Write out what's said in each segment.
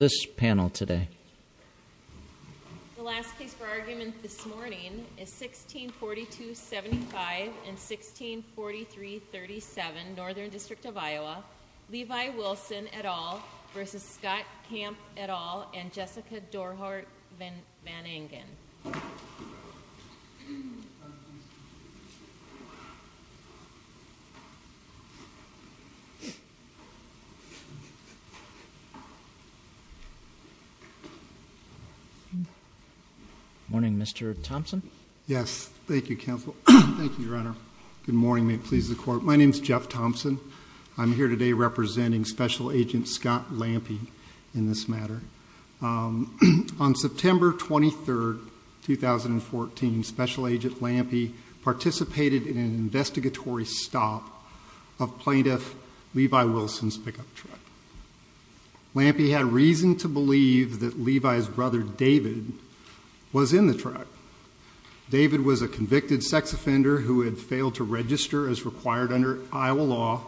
v. Scott Camp et al., and Jessica Dorhart Van Engen. Good morning. May it please the Court, my name is Jeff Thompson. I'm here today representing Special Agent Scott Lampy in this matter. On September 23, 2014, Special Agent Lampy participated in an investigatory stop of plaintiff Levi Wilson's pickup truck. Lampy had reason to believe that Levi's brother David was in the truck. David was a convicted sex offender who had failed to register as required under Iowa law,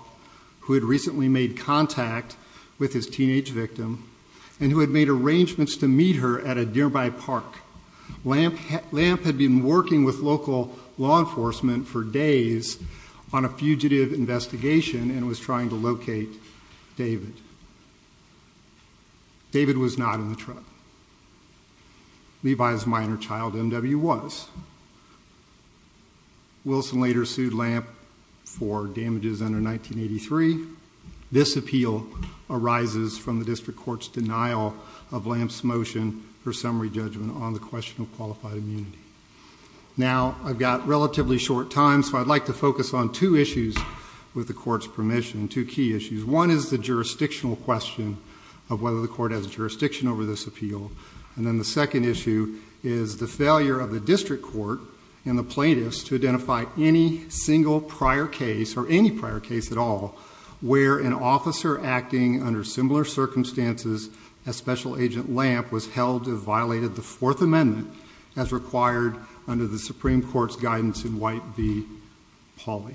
who had recently made contact with his teenage victim, and who had made arrangements to meet her at a nearby park. Lamp had been working with local law enforcement for days on a fugitive investigation and was trying to locate David. David was not in the truck. Levi's minor child, M.W., was. Wilson later sued Lamp for damages under 1983. This appeal arises from the District Court's denial of Lamp's motion for I've got relatively short time, so I'd like to focus on two issues with the Court's permission, two key issues. One is the jurisdictional question of whether the Court has jurisdiction over this appeal. And then the second issue is the failure of the District Court and the plaintiffs to identify any single prior case, or any prior case at all, where an officer acting under similar circumstances as Special Agent Lamp was held to have violated the Fourth Amendment as required under the Supreme Court's guidance in White v. Pauley.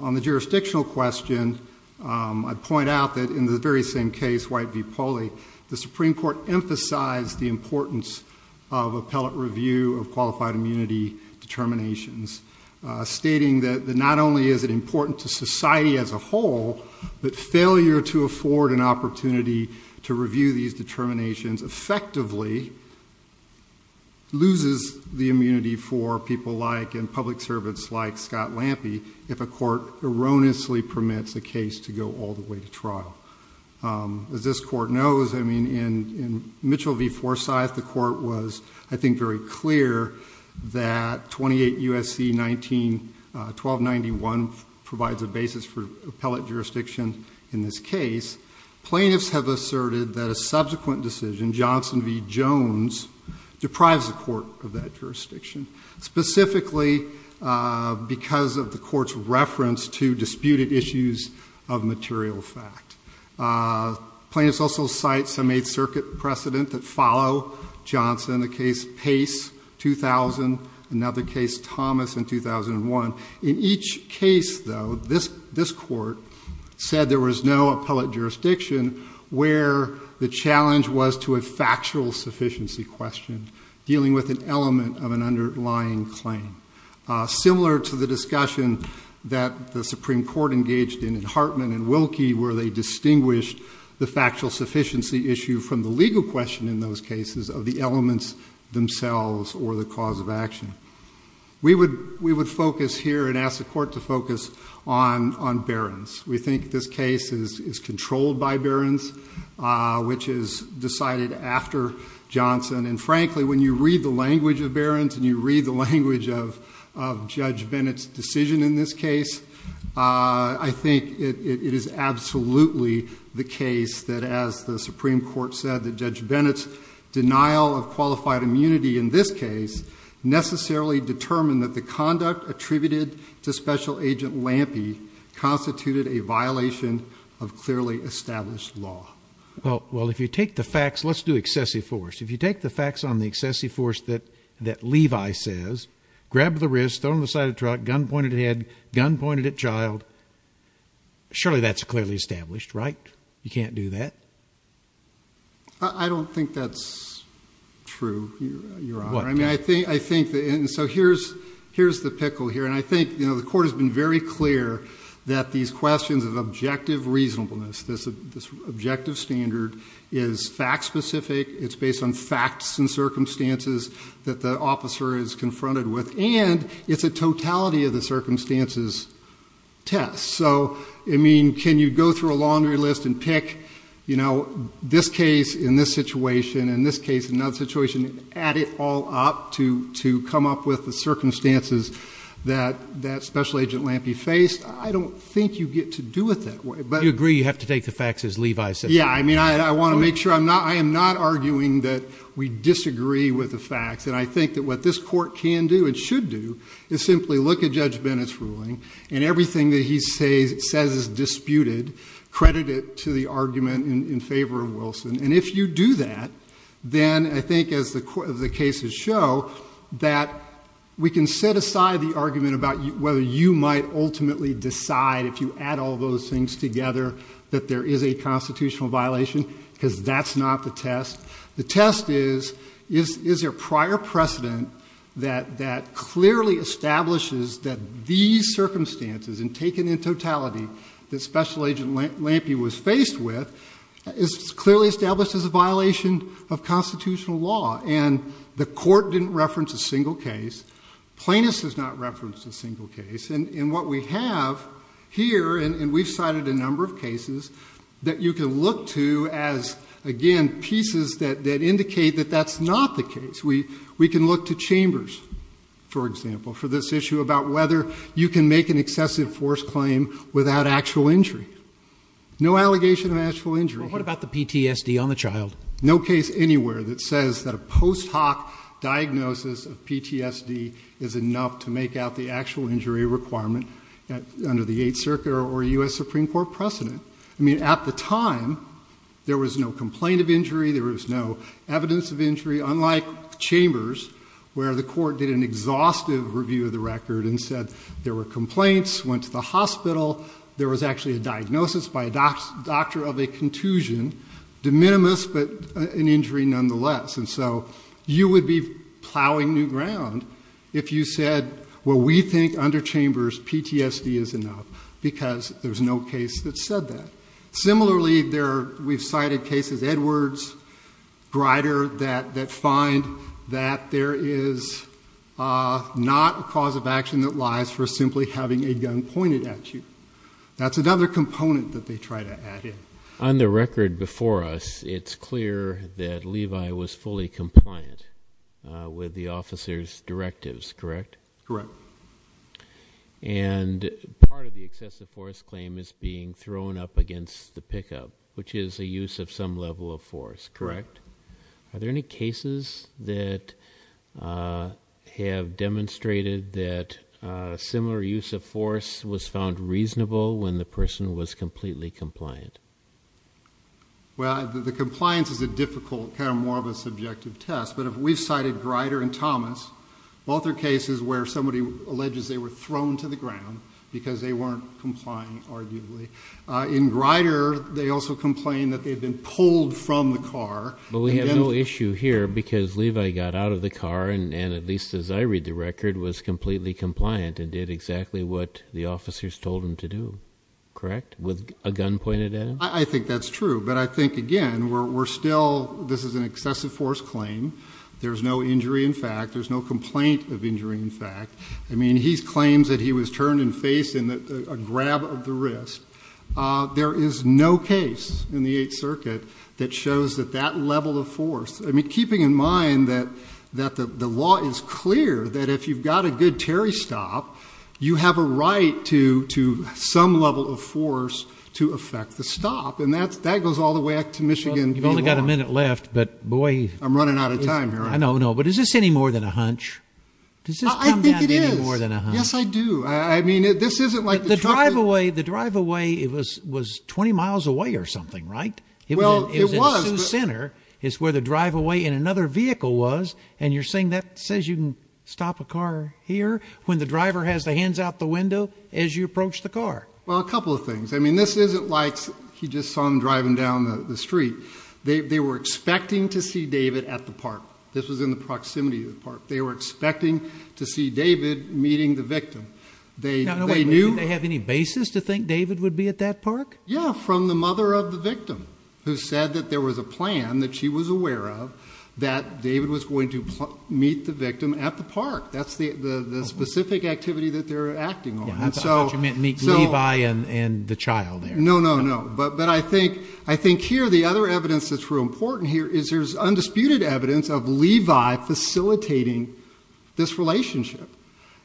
On the jurisdictional question, I point out that in the very same case, White v. Pauley, the Supreme Court emphasized the importance of appellate review of qualified immunity determinations, stating that not only is it important to society as a whole, but failure to afford an opportunity to review these loses the immunity for people like, and public servants like, Scott Lampy if a court erroneously permits a case to go all the way to trial. As this Court knows, I mean, in Mitchell v. Forsyth, the Court was, I think, very clear that 28 U.S.C. 1291 provides a basis for appellate jurisdiction in this case. Plaintiffs have asserted that a subsequent decision, Johnson v. Jones, deprives the Court of that jurisdiction, specifically because of the Court's reference to disputed issues of material fact. Plaintiffs also cite some Eighth Circuit precedent that follow Johnson, the case Pace 2000, another case Thomas in 2001. In each case, though, this Court said there was no appellate jurisdiction where the challenge was to a factual sufficiency question, dealing with an element of an underlying claim. Similar to the discussion that the Supreme Court engaged in Hartman v. Wilkie, where they distinguished the factual sufficiency issue from the legal question in those cases of the elements themselves or the cause of action. We would focus here and ask the Court to focus on Barron's. We think this case is controlled by Barron's, which is decided after Johnson. And frankly, when you read the language of Barron's and you read the language of Judge Bennett's decision in this case, I think it is absolutely the case that, as the Supreme Court said, that Judge Bennett's qualified immunity in this case necessarily determined that the conduct attributed to Special Agent Lampe constituted a violation of clearly established law. Well, if you take the facts, let's do excessive force. If you take the facts on the excessive force that Levi says, grab the wrist, throw it on the side of the truck, gun pointed at head, gun pointed at child, surely that's true, Your Honor. I mean, I think, I think that, and so here's, here's the pickle here. And I think, you know, the Court has been very clear that these questions of objective reasonableness, this objective standard is fact specific. It's based on facts and circumstances that the officer is confronted with, and it's a totality of the circumstances test. So, I mean, can you go through a laundry list and pick, you know, this case in this situation and this case in another situation, add it all up to, to come up with the circumstances that, that Special Agent Lampe faced? I don't think you get to do it that way. You agree you have to take the facts as Levi says? Yeah, I mean, I want to make sure I'm not, I am not arguing that we disagree with the facts. And I think that what this Court can do and should do is simply look at Judge Bennett's ruling and everything that he says, says is disputed, credit it to the then I think as the cases show that we can set aside the argument about whether you might ultimately decide if you add all those things together that there is a constitutional violation, because that's not the test. The test is, is, is there prior precedent that, that clearly establishes that these circumstances and taken in totality that Special Agent Lampe was faced with is clearly established as a violation of constitutional law. And the Court didn't reference a single case. Plaintiffs has not referenced a single case. And, and what we have here, and we've cited a number of cases that you can look to as, again, pieces that, that indicate that that's not the case. We, we can look to chambers, for example, for this issue about whether you can make an excessive force claim without actual injury. No allegation of actual injury. What about the PTSD on the child? No case anywhere that says that a post hoc diagnosis of PTSD is enough to make out the actual injury requirement at, under the Eighth Circuit or U.S. Supreme Court precedent. I mean, at the time, there was no complaint of injury. There was no evidence of injury. Unlike chambers, where the Court did an exhaustive review of the record and said there were complaints, went to the hospital. There was actually a diagnosis by a doc, doctor of a contusion, de minimis, but an injury nonetheless. And so, you would be plowing new ground if you said, well, we think under chambers, PTSD is enough, because there's no case that said that. Similarly, there, we've cited cases, Edwards, Grider, that, that find that there is not a cause of action that lies for simply having a gun pointed at you. That's another component that they try to add in. On the record before us, it's clear that Levi was fully compliant with the officer's directives, correct? Correct. And part of the excessive force claim is being thrown up against the pickup, which is a use of some level of force, correct? Are there any cases that have demonstrated that similar use of force was found reasonable when the person was completely compliant? Well, the compliance is a difficult, kind of more of a subjective test, but if we've cited Grider and Thomas, both are cases where somebody alleges they were thrown to the ground because they weren't complying, arguably. In Grider, they also complain that they've been pulled from the car. But we have no issue here, because Levi got out of the car, and at least as I read the record, was completely compliant and did exactly what the officers told him to do, correct? With a gun pointed at him? I think that's true, but I think, again, we're still, this is an excessive force claim. There's no injury, in fact. There's no complaint of injury, in fact. I mean, he claims that he was turned and faced in a grab of the wrist. There is no case in the Eighth Circuit that shows that that level of force, I mean, keeping in mind that, that the law is clear, that if you've got a good Terry stop, you have a right to some level of force to affect the stop, and that's, that goes all the way back to Michigan. You've only got a minute left, but boy. I'm running out of time here. I know, I know, but is this any more than a hunch? Does this come down to any more than a hunch? I think it is. Yes, I do. I mean, this isn't like... The drive-away, the drive-away, it was, was 20 miles away or something, right? Well, it was. It was at Sioux Center, is where the drive-away in another vehicle was, and you're saying that says you can stop a here when the driver has the hands out the window as you approach the car. Well, a couple of things. I mean, this isn't like he just saw him driving down the street. They, they were expecting to see David at the park. This was in the proximity of the park. They were expecting to see David meeting the victim. They, they knew... Now, do they have any basis to think David would be at that park? Yeah, from the mother of the victim, who said that there was a plan that she was aware of, that David was going to meet the victim at the park. That's the, the, the specific activity that they're acting on, and so... You meant meet Levi and, and the child there. No, no, no, but, but I think, I think here the other evidence that's real important here is there's undisputed evidence of Levi facilitating this relationship,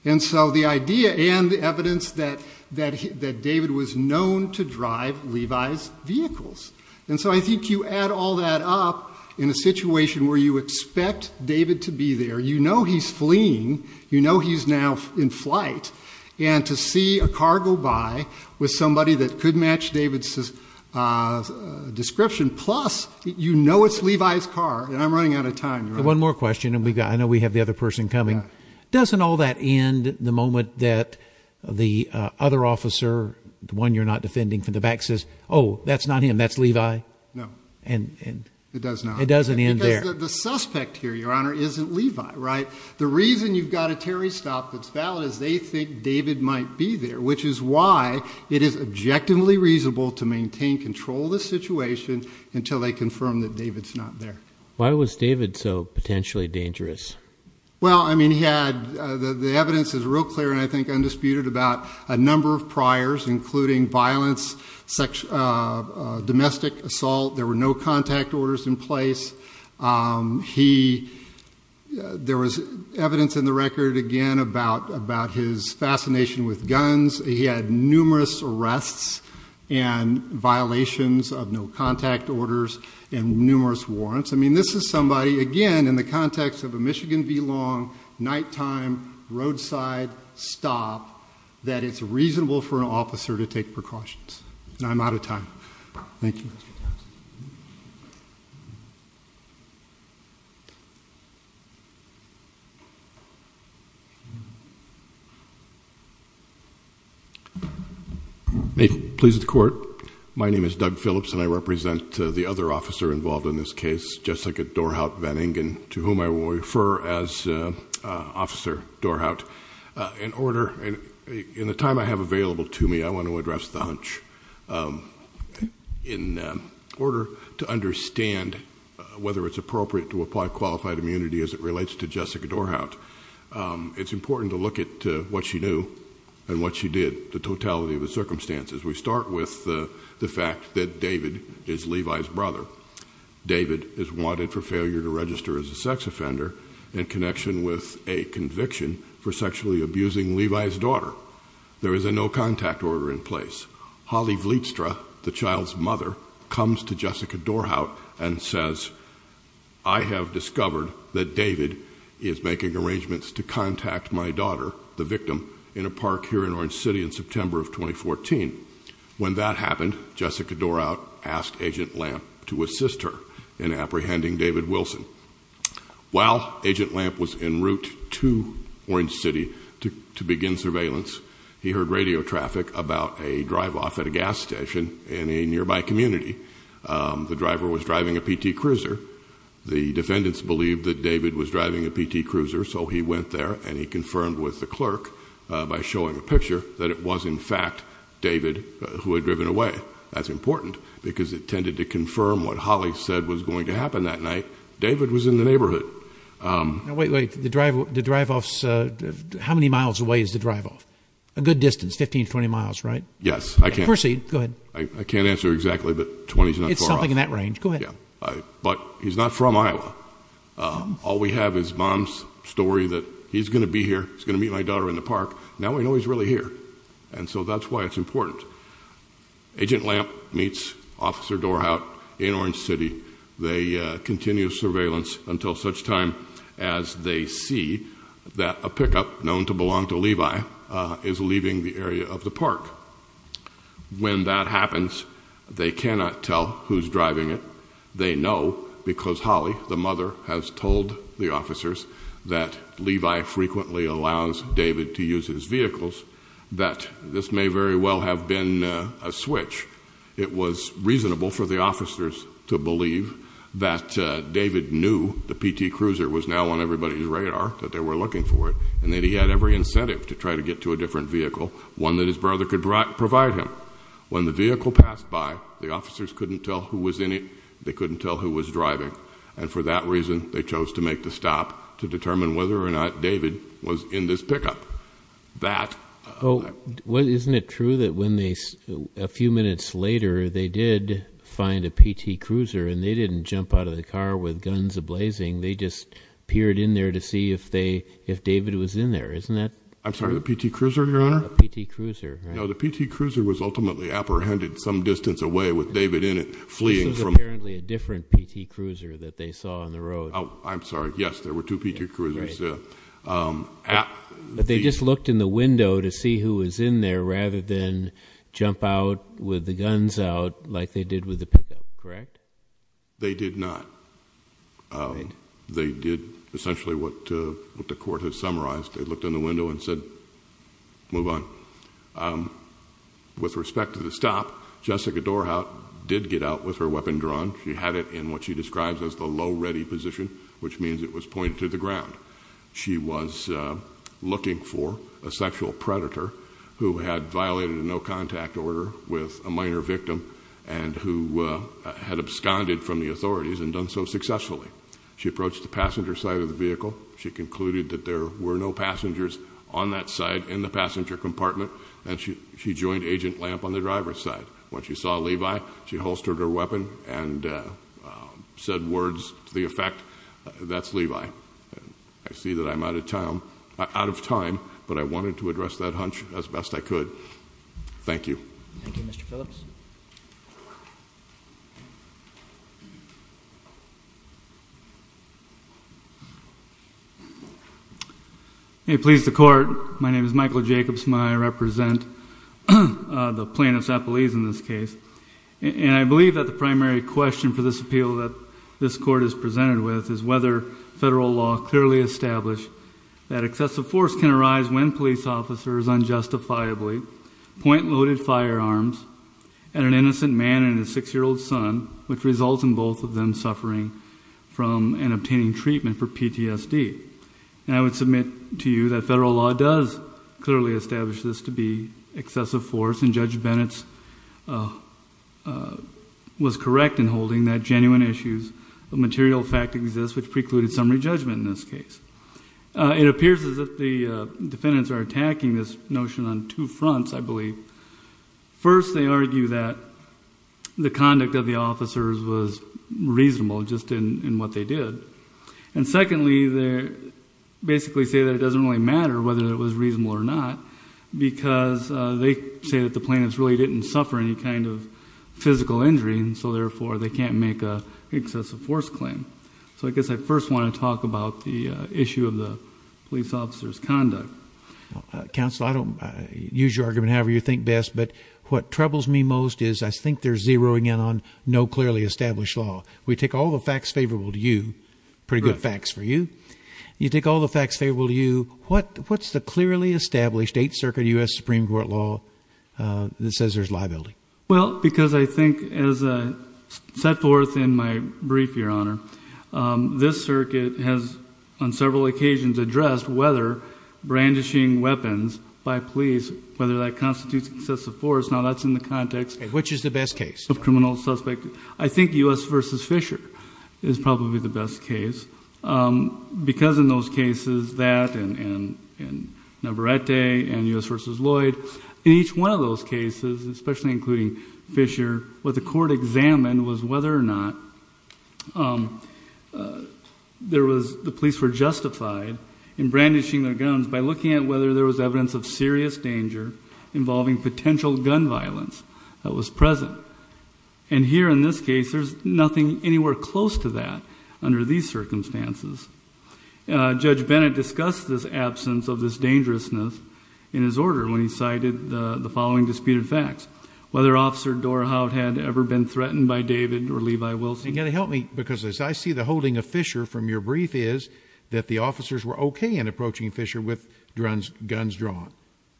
and so the idea and the evidence that, that, that David was known to drive Levi's vehicles, and so I think you add all that up in a situation where you expect David to be there. You know he's fleeing. You know he's now in flight, and to see a car go by with somebody that could match David's description, plus you know it's Levi's car, and I'm running out of time. One more question, and we got, I know we have the other person coming. Doesn't all that end the moment that the other officer, the one you're not defending from the back, says, oh, that's not him. That's Levi? No. And, and... It does not. It doesn't end there. The suspect here, Your Honor, isn't Levi, right? The reason you've got a Terry stop that's valid is they think David might be there, which is why it is objectively reasonable to maintain control of the situation until they confirm that David's not there. Why was David so potentially dangerous? Well, I mean, he had, the evidence is real clear, and I think undisputed, about a number of priors, including violence, sex, domestic assault. There were no contact orders in place. He, there was evidence in the record, again, about, about his fascination with guns. He had numerous arrests and violations of no contact orders and numerous warrants. I mean, this is somebody, again, in the context of a Michigan v. Long nighttime roadside stop, that it's reasonable for an officer to take precautions. I'm out of time. Thank you, Mr. Tavis. May it please the Court. My name is Doug Phillips, and I represent the other officer involved in this case, Jessica Dorhout-Van Ingen, to whom I will refer as Officer Dorhout. In order, in the time I have available to me, I want to address the hunch. In order to understand whether it's appropriate to apply qualified immunity as it relates to Jessica Dorhout, it's important to look at what she knew and what she did, the totality of the circumstances. We start with the fact that David is Levi's brother. David is wanted for failure to in connection with a conviction for sexually abusing Levi's daughter. There is a no contact order in place. Holly Vlietstra, the child's mother, comes to Jessica Dorhout and says, I have discovered that David is making arrangements to contact my daughter, the victim, in a park here in Orange City in September of 2014. When that happened, Jessica Dorhout asked Agent Lamp to was in route to Orange City to begin surveillance. He heard radio traffic about a drive-off at a gas station in a nearby community. The driver was driving a PT Cruiser. The defendants believed that David was driving a PT Cruiser, so he went there and he confirmed with the clerk, by showing a picture, that it was in fact David who had driven away. That's important because it tended to confirm what Holly said was going to happen that night. David was in the neighborhood. Wait, wait, the drive-offs, how many miles away is the drive-off? A good distance, 15-20 miles, right? Yes. Proceed, go ahead. I can't answer exactly, but 20 is not far off. It's something in that range. Go ahead. But he's not from Iowa. All we have is mom's story that he's gonna be here, he's gonna meet my daughter in the park. Now we know he's really here, and so that's why it's important. Agent Lamp meets Officer Dorhout in Orange City. They continue surveillance until such time as they see that a pickup known to belong to Levi is leaving the area of the park. When that happens, they cannot tell who's driving it. They know because Holly, the mother, has told the officers that Levi frequently allows David to use his vehicles, that this may very well have been a switch. It was reasonable for the officers to believe that David knew the PT Cruiser was now on everybody's radar, that they were looking for it, and that he had every incentive to try to get to a different vehicle, one that his brother could provide him. When the vehicle passed by, the officers couldn't tell who was in it, they couldn't tell who was driving, and for that reason they chose to make the stop to determine whether or not David was in this pickup. Isn't it true that when they, a few minutes later, they did find a PT Cruiser and they didn't jump out of the car with guns a-blazing, they just peered in there to see if David was in there, isn't that? I'm sorry, the PT Cruiser, Your Honor? No, the PT Cruiser was ultimately apprehended some distance away with David in it fleeing. This was apparently a different PT Cruiser that they saw on the road. Oh, I'm sorry, yes, there were two PT Cruisers. But they just looked in the window to see who was in there rather than jump out with the guns out like they did with the pickup, correct? They did not. They did essentially what the court has summarized. They looked in the window and said, move on. With respect to the stop, Jessica Dorhout did get out with her weapon drawn. She had it in what she describes as the low ready position, which means it was pointed to the ground. She was looking for a sexual predator who had violated a no-contact order with a minor victim and who had absconded from the authorities and done so successfully. She approached the passenger side of the vehicle. She concluded that there were no passengers on that side in the passenger compartment and she joined Agent Lamp on the driver's side. When she saw Levi, she said words to the effect, that's Levi. I see that I'm out of time, but I wanted to address that hunch as best I could. Thank you. May it please the court, my name is Michael Jacobs. I represent the plaintiff's office. The primary question for this appeal that this court is presented with is whether federal law clearly established that excessive force can arise when police officers unjustifiably point loaded firearms at an innocent man and his six-year-old son, which results in both of them suffering from and obtaining treatment for PTSD. I would submit to you that federal law does clearly establish this to be excessive force and Judge Recton holding that genuine issues of material fact exist, which precluded summary judgment in this case. It appears as if the defendants are attacking this notion on two fronts, I believe. First, they argue that the conduct of the officers was reasonable just in what they did. And secondly, they basically say that it doesn't really matter whether it was reasonable or not because they say that the plaintiffs really didn't suffer any kind of trauma before they can't make an excessive force claim. So I guess I first want to talk about the issue of the police officer's conduct. Counsel, I don't use your argument however you think best, but what troubles me most is I think they're zeroing in on no clearly established law. We take all the facts favorable to you. Pretty good facts for you. You take all the facts favorable to you. What's the clearly established Eighth Circuit U.S. Supreme Court law that says there's liability? Well, because I think as set forth in my brief, Your Honor, this circuit has on several occasions addressed whether brandishing weapons by police, whether that constitutes excessive force. Now that's in the context of criminal suspect. I think U.S. v. Fisher is probably the best case because in those cases that and Navarrete and U.S. v. Lloyd, in each one of those cases, especially including Fisher, what the court examined was whether or not the police were justified in brandishing their guns by looking at whether there was evidence of serious danger involving potential gun violence that was present. And here in this case, there's nothing anywhere close to that under these circumstances. Judge Bennett discussed this absence of this whether Officer Dorhout had ever been threatened by David or Levi Wilson. You got to help me because as I see the holding of Fisher from your brief is that the officers were OK in approaching Fisher with guns drawn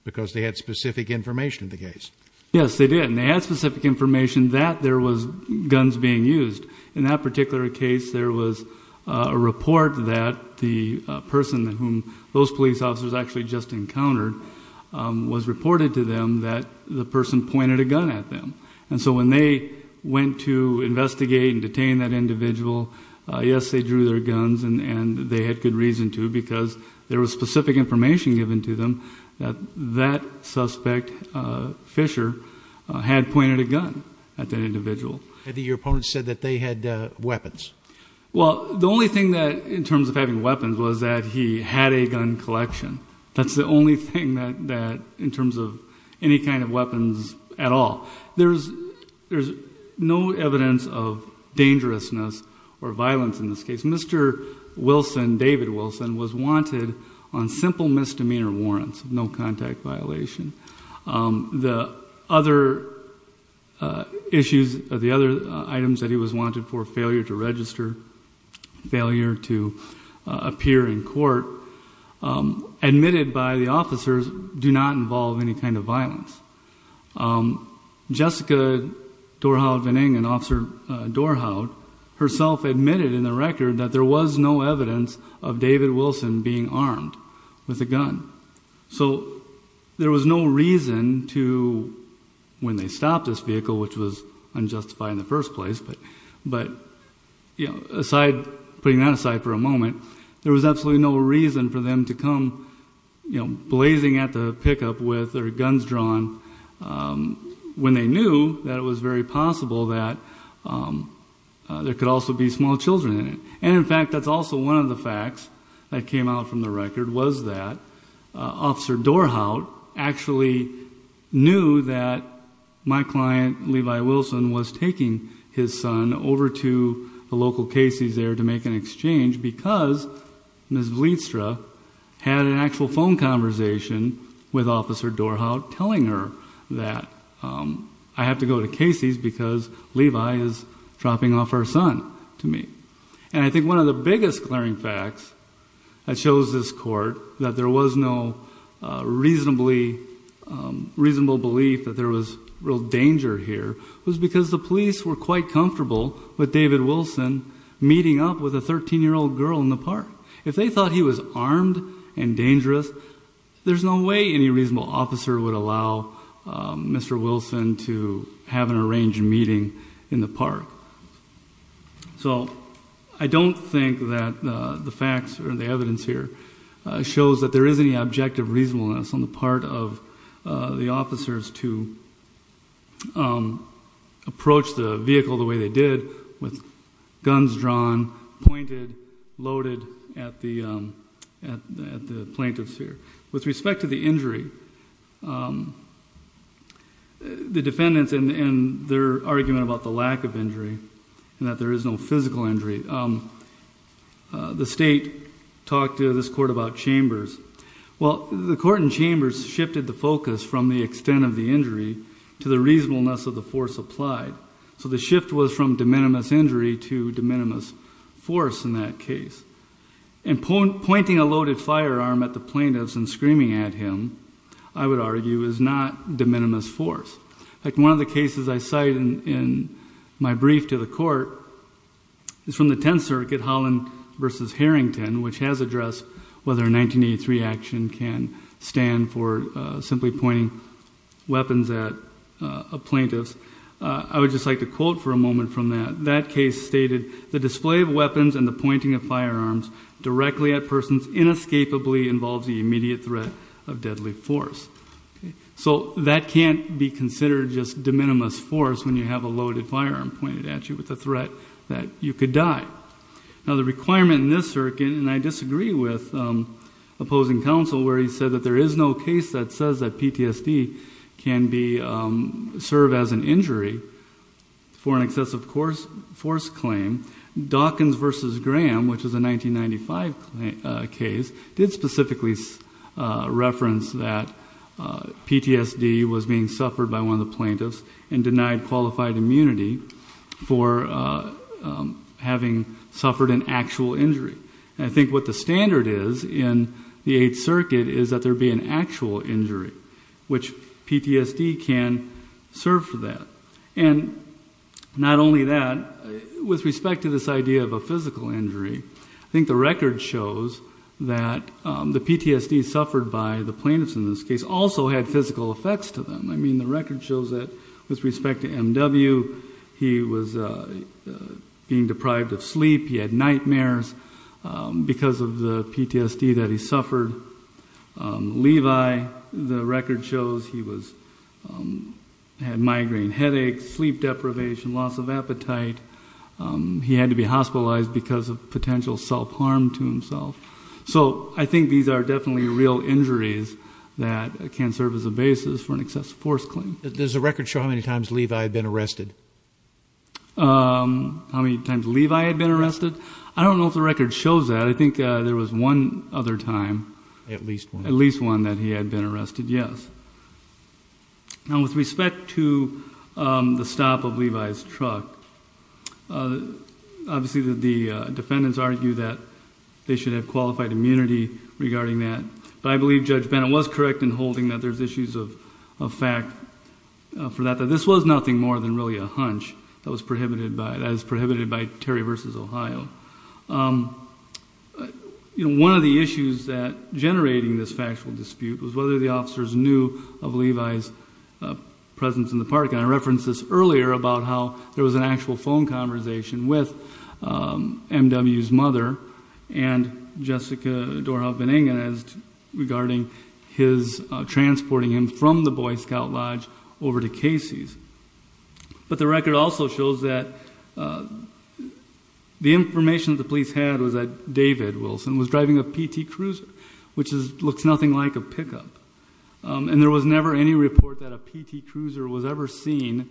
because they had specific information in the case. Yes, they did. And they had specific information that there was guns being used. In that particular case, there was a report that the person whom those police actually just encountered was reported to them that the person pointed a gun at them. And so when they went to investigate and detain that individual, yes, they drew their guns and they had good reason to because there was specific information given to them that that suspect, Fisher, had pointed a gun at that individual. Your opponent said that they had weapons. Well, the only thing that in terms of having weapons was that he had a gun collection. That's the only thing that that in terms of any kind of weapons at all, there's there's no evidence of dangerousness or violence in this case. Mr. Wilson, David Wilson, was wanted on simple misdemeanor warrants, no contact violation. The other issues, the other items that he was wanted for failure to register, failure to appear in court, admitted by the officers do not involve any kind of violence. Jessica Dorhout-Vening and Officer Dorhout herself admitted in the record that there was no evidence of David Wilson being armed with a gun. So there was no reason to when they stopped this vehicle, which was unjustified in the first place, but, you know, putting that aside for a moment, there was absolutely no reason for them to come, you know, blazing at the pickup with their guns drawn when they knew that it was very possible that there could also be small children in it. And in fact, that's also one of the facts that came out from the record was that Officer Dorhout actually knew that my client, Levi Wilson, was taking his son over to the local Casey's there to make an exchange because Ms. Bleedstra had an actual phone conversation with Officer Dorhout telling her that I have to go to Casey's because Levi is dropping off our son to me. And I think one of the biggest glaring facts that shows this court that there was no reasonably, reasonable belief that there was real danger here was because the police were quite comfortable with David Wilson meeting up with a 13-year-old girl in the park. If they thought he was armed and dangerous, there's no way any reasonable officer would allow Mr. Wilson to have an arranged meeting in the park. So I don't think that the facts or the evidence here shows that there is any objective reasonableness on the part of the officers to approach the vehicle the way they did with guns drawn, pointed, loaded at the plaintiffs here. With respect to the injury, the defendants and their argument about the lack of injury and that there is no physical injury, the state talked to this court about it. The court in Chambers shifted the focus from the extent of the injury to the reasonableness of the force applied. So the shift was from de minimis injury to de minimis force in that case. And pointing a loaded firearm at the plaintiffs and screaming at him, I would argue, is not de minimis force. In fact, one of the cases I cite in my brief to the court is from the Tenth Circuit, Holland v. Harrington, which has addressed whether a 1983 action can stand for simply pointing weapons at a plaintiff. I would just like to quote for a moment from that. That case stated, the display of weapons and the pointing of firearms directly at persons inescapably involves the immediate threat of deadly force. So that can't be considered just de minimis force when you have a loaded firearm pointed at you with the threat that you could die. Now the requirement in this circuit, and I disagree with opposing counsel where he said that there is no case that says that PTSD can be served as an injury for an excessive force claim. Dawkins v. Graham, which is a 1995 case, did specifically reference that PTSD was being suffered by one of the plaintiffs. And I think that's a very well-qualified immunity for having suffered an actual injury. And I think what the standard is in the Eighth Circuit is that there be an actual injury, which PTSD can serve for that. And not only that, with respect to this idea of a physical injury, I think the record shows that the PTSD suffered by the plaintiffs in this case also had physical effects to them. I mean, the record shows that with respect to M.W., he was being deprived of sleep. He had nightmares because of the PTSD that he suffered. Levi, the record shows he had migraine headaches, sleep deprivation, loss of appetite. He had to be hospitalized because of potential self-harm to himself. So I think these are definitely real injuries that can serve as a for an excessive force claim. Does the record show how many times Levi had been arrested? How many times Levi had been arrested? I don't know if the record shows that. I think there was one other time. At least one. At least one that he had been arrested, yes. Now, with respect to the stop of Levi's truck, obviously the defendants argue that they should have qualified immunity regarding that. But I believe Judge Bennett was correct in holding that there's issues of fact for that, that this was nothing more than really a hunch that was prohibited by Terry v. Ohio. You know, one of the issues that generating this factual dispute was whether the officers knew of Levi's presence in the parking lot. I referenced this earlier about how there was an actual phone conversation with M.W.'s mother and Jessica Doerhof-Beningen regarding his transporting him from the Boy Scout Lodge over to Casey's. But the record also shows that the information the police had was that David Wilson was driving a PT cruiser, which looks nothing like a pickup. And there was never any report that a PT cruiser was ever seen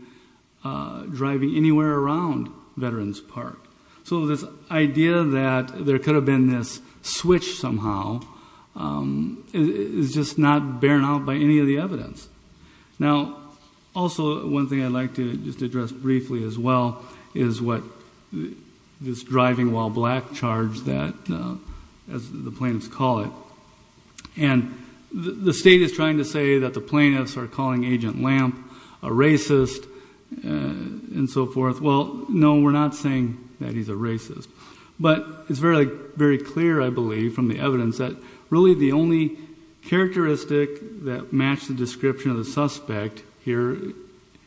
driving anywhere around Veterans Park. So this idea that there could have been this switch somehow is just not barren out by any of the evidence. Now, also one thing I'd like to just address briefly as well is what this driving while black charge that, as the plaintiffs call it. And the state is trying to say that the plaintiffs are calling Agent Lamp a racist and so forth. Well, no, we're not saying that he's a racist. But it's very, very clear, I believe, from the evidence that really the only characteristic that matched the description of the suspect here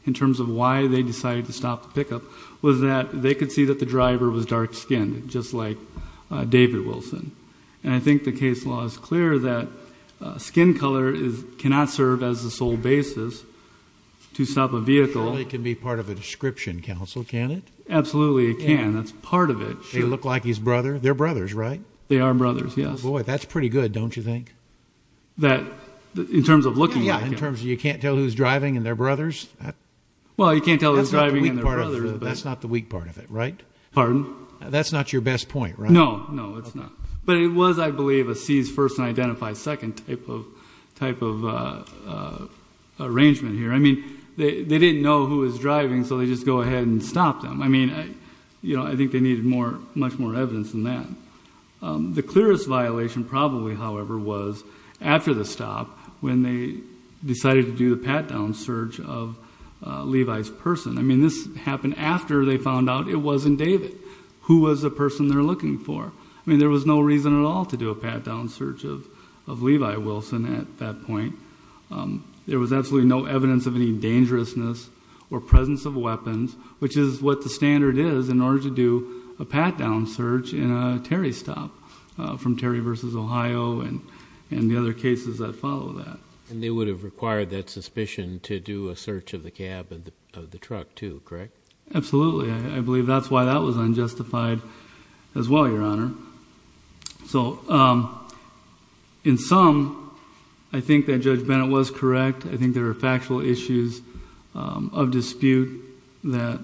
in terms of why they decided to stop the pickup was that they could see that the driver was dark-skinned just like David Wilson. And I think the case law is clear that skin color cannot serve as the sole basis to stop a vehicle. It can be part of a description council, can it? Absolutely, it can. That's part of it. They look like his brother. They're brothers, right? They are brothers. Yes. Boy, that's pretty good, don't you think? That in terms of looking at in terms of you can't tell who's driving and their brothers. Well, you can't tell who's driving. That's not the weak part of it, right? Pardon? That's not your best point, right? No, no, it's not. But it was, I believe, a seize first and identify second type of arrangement here. I mean, they didn't know who was driving, so they just go ahead and stop them. I mean, you know, I think they needed more, much more evidence than that. The clearest violation probably, however, was after the stop when they decided to do the pat-down search of Levi's person. I mean, this happened after they found out it wasn't David who was the person they're looking for. I mean, there was no reason at all to do a pat-down search of Levi Wilson at that point. There was absolutely no evidence of any dangerousness or presence of weapons, which is what the standard is in order to do a pat-down search in a Terry stop from Terry versus Ohio and the other cases that follow that. And they would have required that suspicion to do a search of the cab of the truck too, correct? Absolutely. I believe that's why that was unjustified as well, Your Honor. So in sum, I think that Judge Bennett was correct. I think there are factual issues of dispute that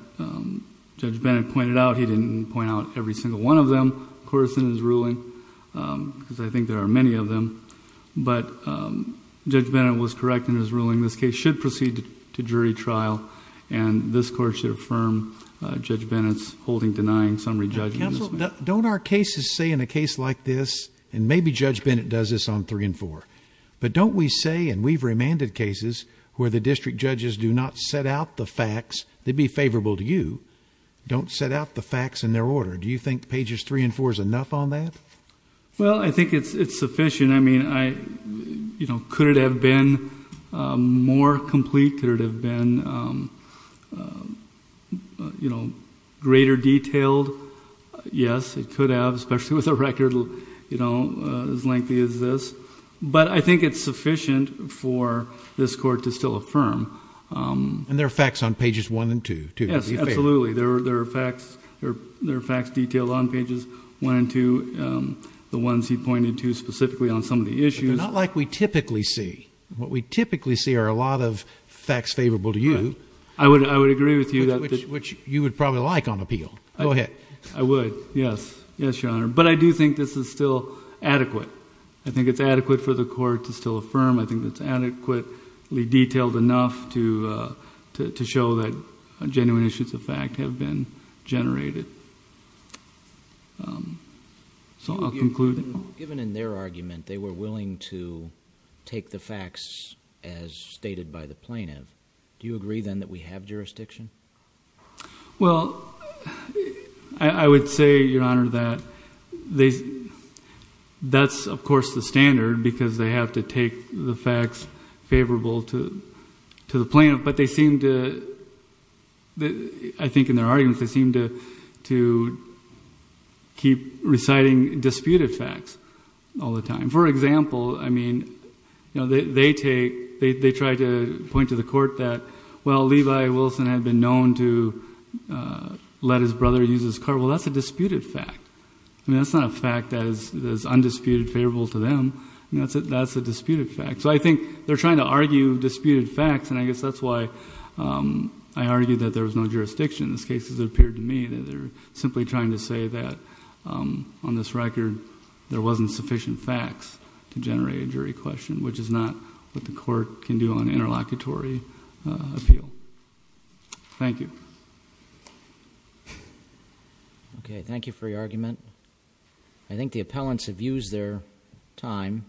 Judge Bennett pointed out. He didn't point out every single one of them, of course, in his ruling, because I think there are many of them. But Judge Bennett was correct in his ruling. This case should proceed to jury trial, and this Court should affirm Judge Bennett's holding denying summary judgment. Counsel, don't our cases say in a case like this, and maybe Judge Bennett does this on three and four, but don't we say, and we've remanded cases where the district judges do not set out the facts, they'd be favorable to you, don't set out the facts in their order. Do you think pages three and four is enough on that? Well, I think it's sufficient. I mean, could it have been more complete? Could it have been greater detailed? Yes, it could have, especially with a record as lengthy as this. But I think it's sufficient for this Court to still affirm. And there are facts on pages one and two? Yes, absolutely. There are facts detailed on pages one and two, the ones he pointed to specifically on some of the issues. Not like we typically see. What we typically see are a lot of facts favorable to you. I would agree with you. Which you would probably like on appeal. Go ahead. I would, yes. Yes, Your Honor. But I do think this is still adequate. I think it's adequate for the have been generated. So I'll conclude. Given in their argument they were willing to take the facts as stated by the plaintiff, do you agree then that we have jurisdiction? Well, I would say, Your Honor, that that's of course the standard because they have to take the facts favorable to the plaintiff. But they seem to, I think in their arguments, they seem to keep reciting disputed facts all the time. For example, I mean, you know, they take, they try to point to the Court that, well, Levi Wilson had been known to let his brother use his car. Well, that's a disputed fact. I mean, that's not a fact that is undisputed favorable to them. That's a disputed fact. So I think they're trying to argue disputed facts. And I guess that's why I argued that there was no jurisdiction in this case, as it appeared to me, that they're simply trying to say that on this record there wasn't sufficient facts to generate a jury question, which is not what the Court can do on interlocutory appeal. Thank you. Okay. Thank you for your argument. I think the appellants have used their time.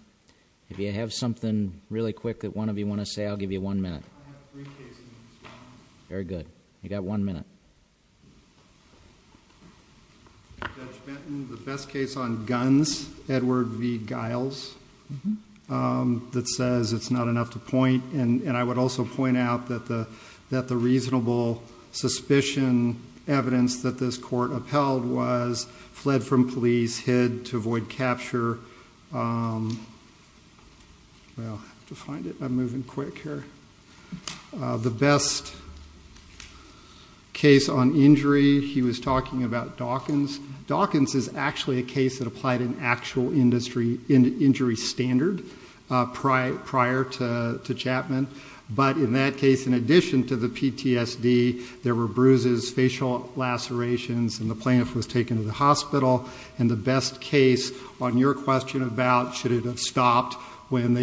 If you have something really quick that one of you want to say, I'll give you one minute. Very good. You got one minute. Judge Benton, the best case on guns, Edward v. Giles, that says it's not enough to point. And I would also point out that the reasonable suspicion evidence that this Court upheld was fled from police, hid to avoid capture. Well, I have to find it. I'm moving quick here. The best case on injury, he was talking about Dawkins. Dawkins is actually a case that applied an actual injury standard prior to Chapman. But in that case, in addition to the PTSD, there were bruises, facial lacerations, and the plaintiff was taken to the hospital. And the best case on your question about should it have stopped when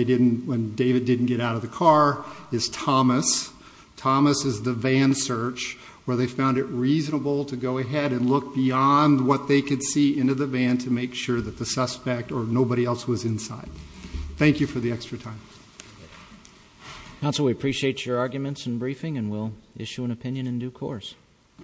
David didn't get out of the car is Thomas. Thomas is the van search, where they found it reasonable to go ahead and look beyond what they could see into the van to make sure that the suspect or nobody else was inside. Thank you for the extra time. Counsel, we appreciate your arguments and briefing, and we'll issue an opinion in due course.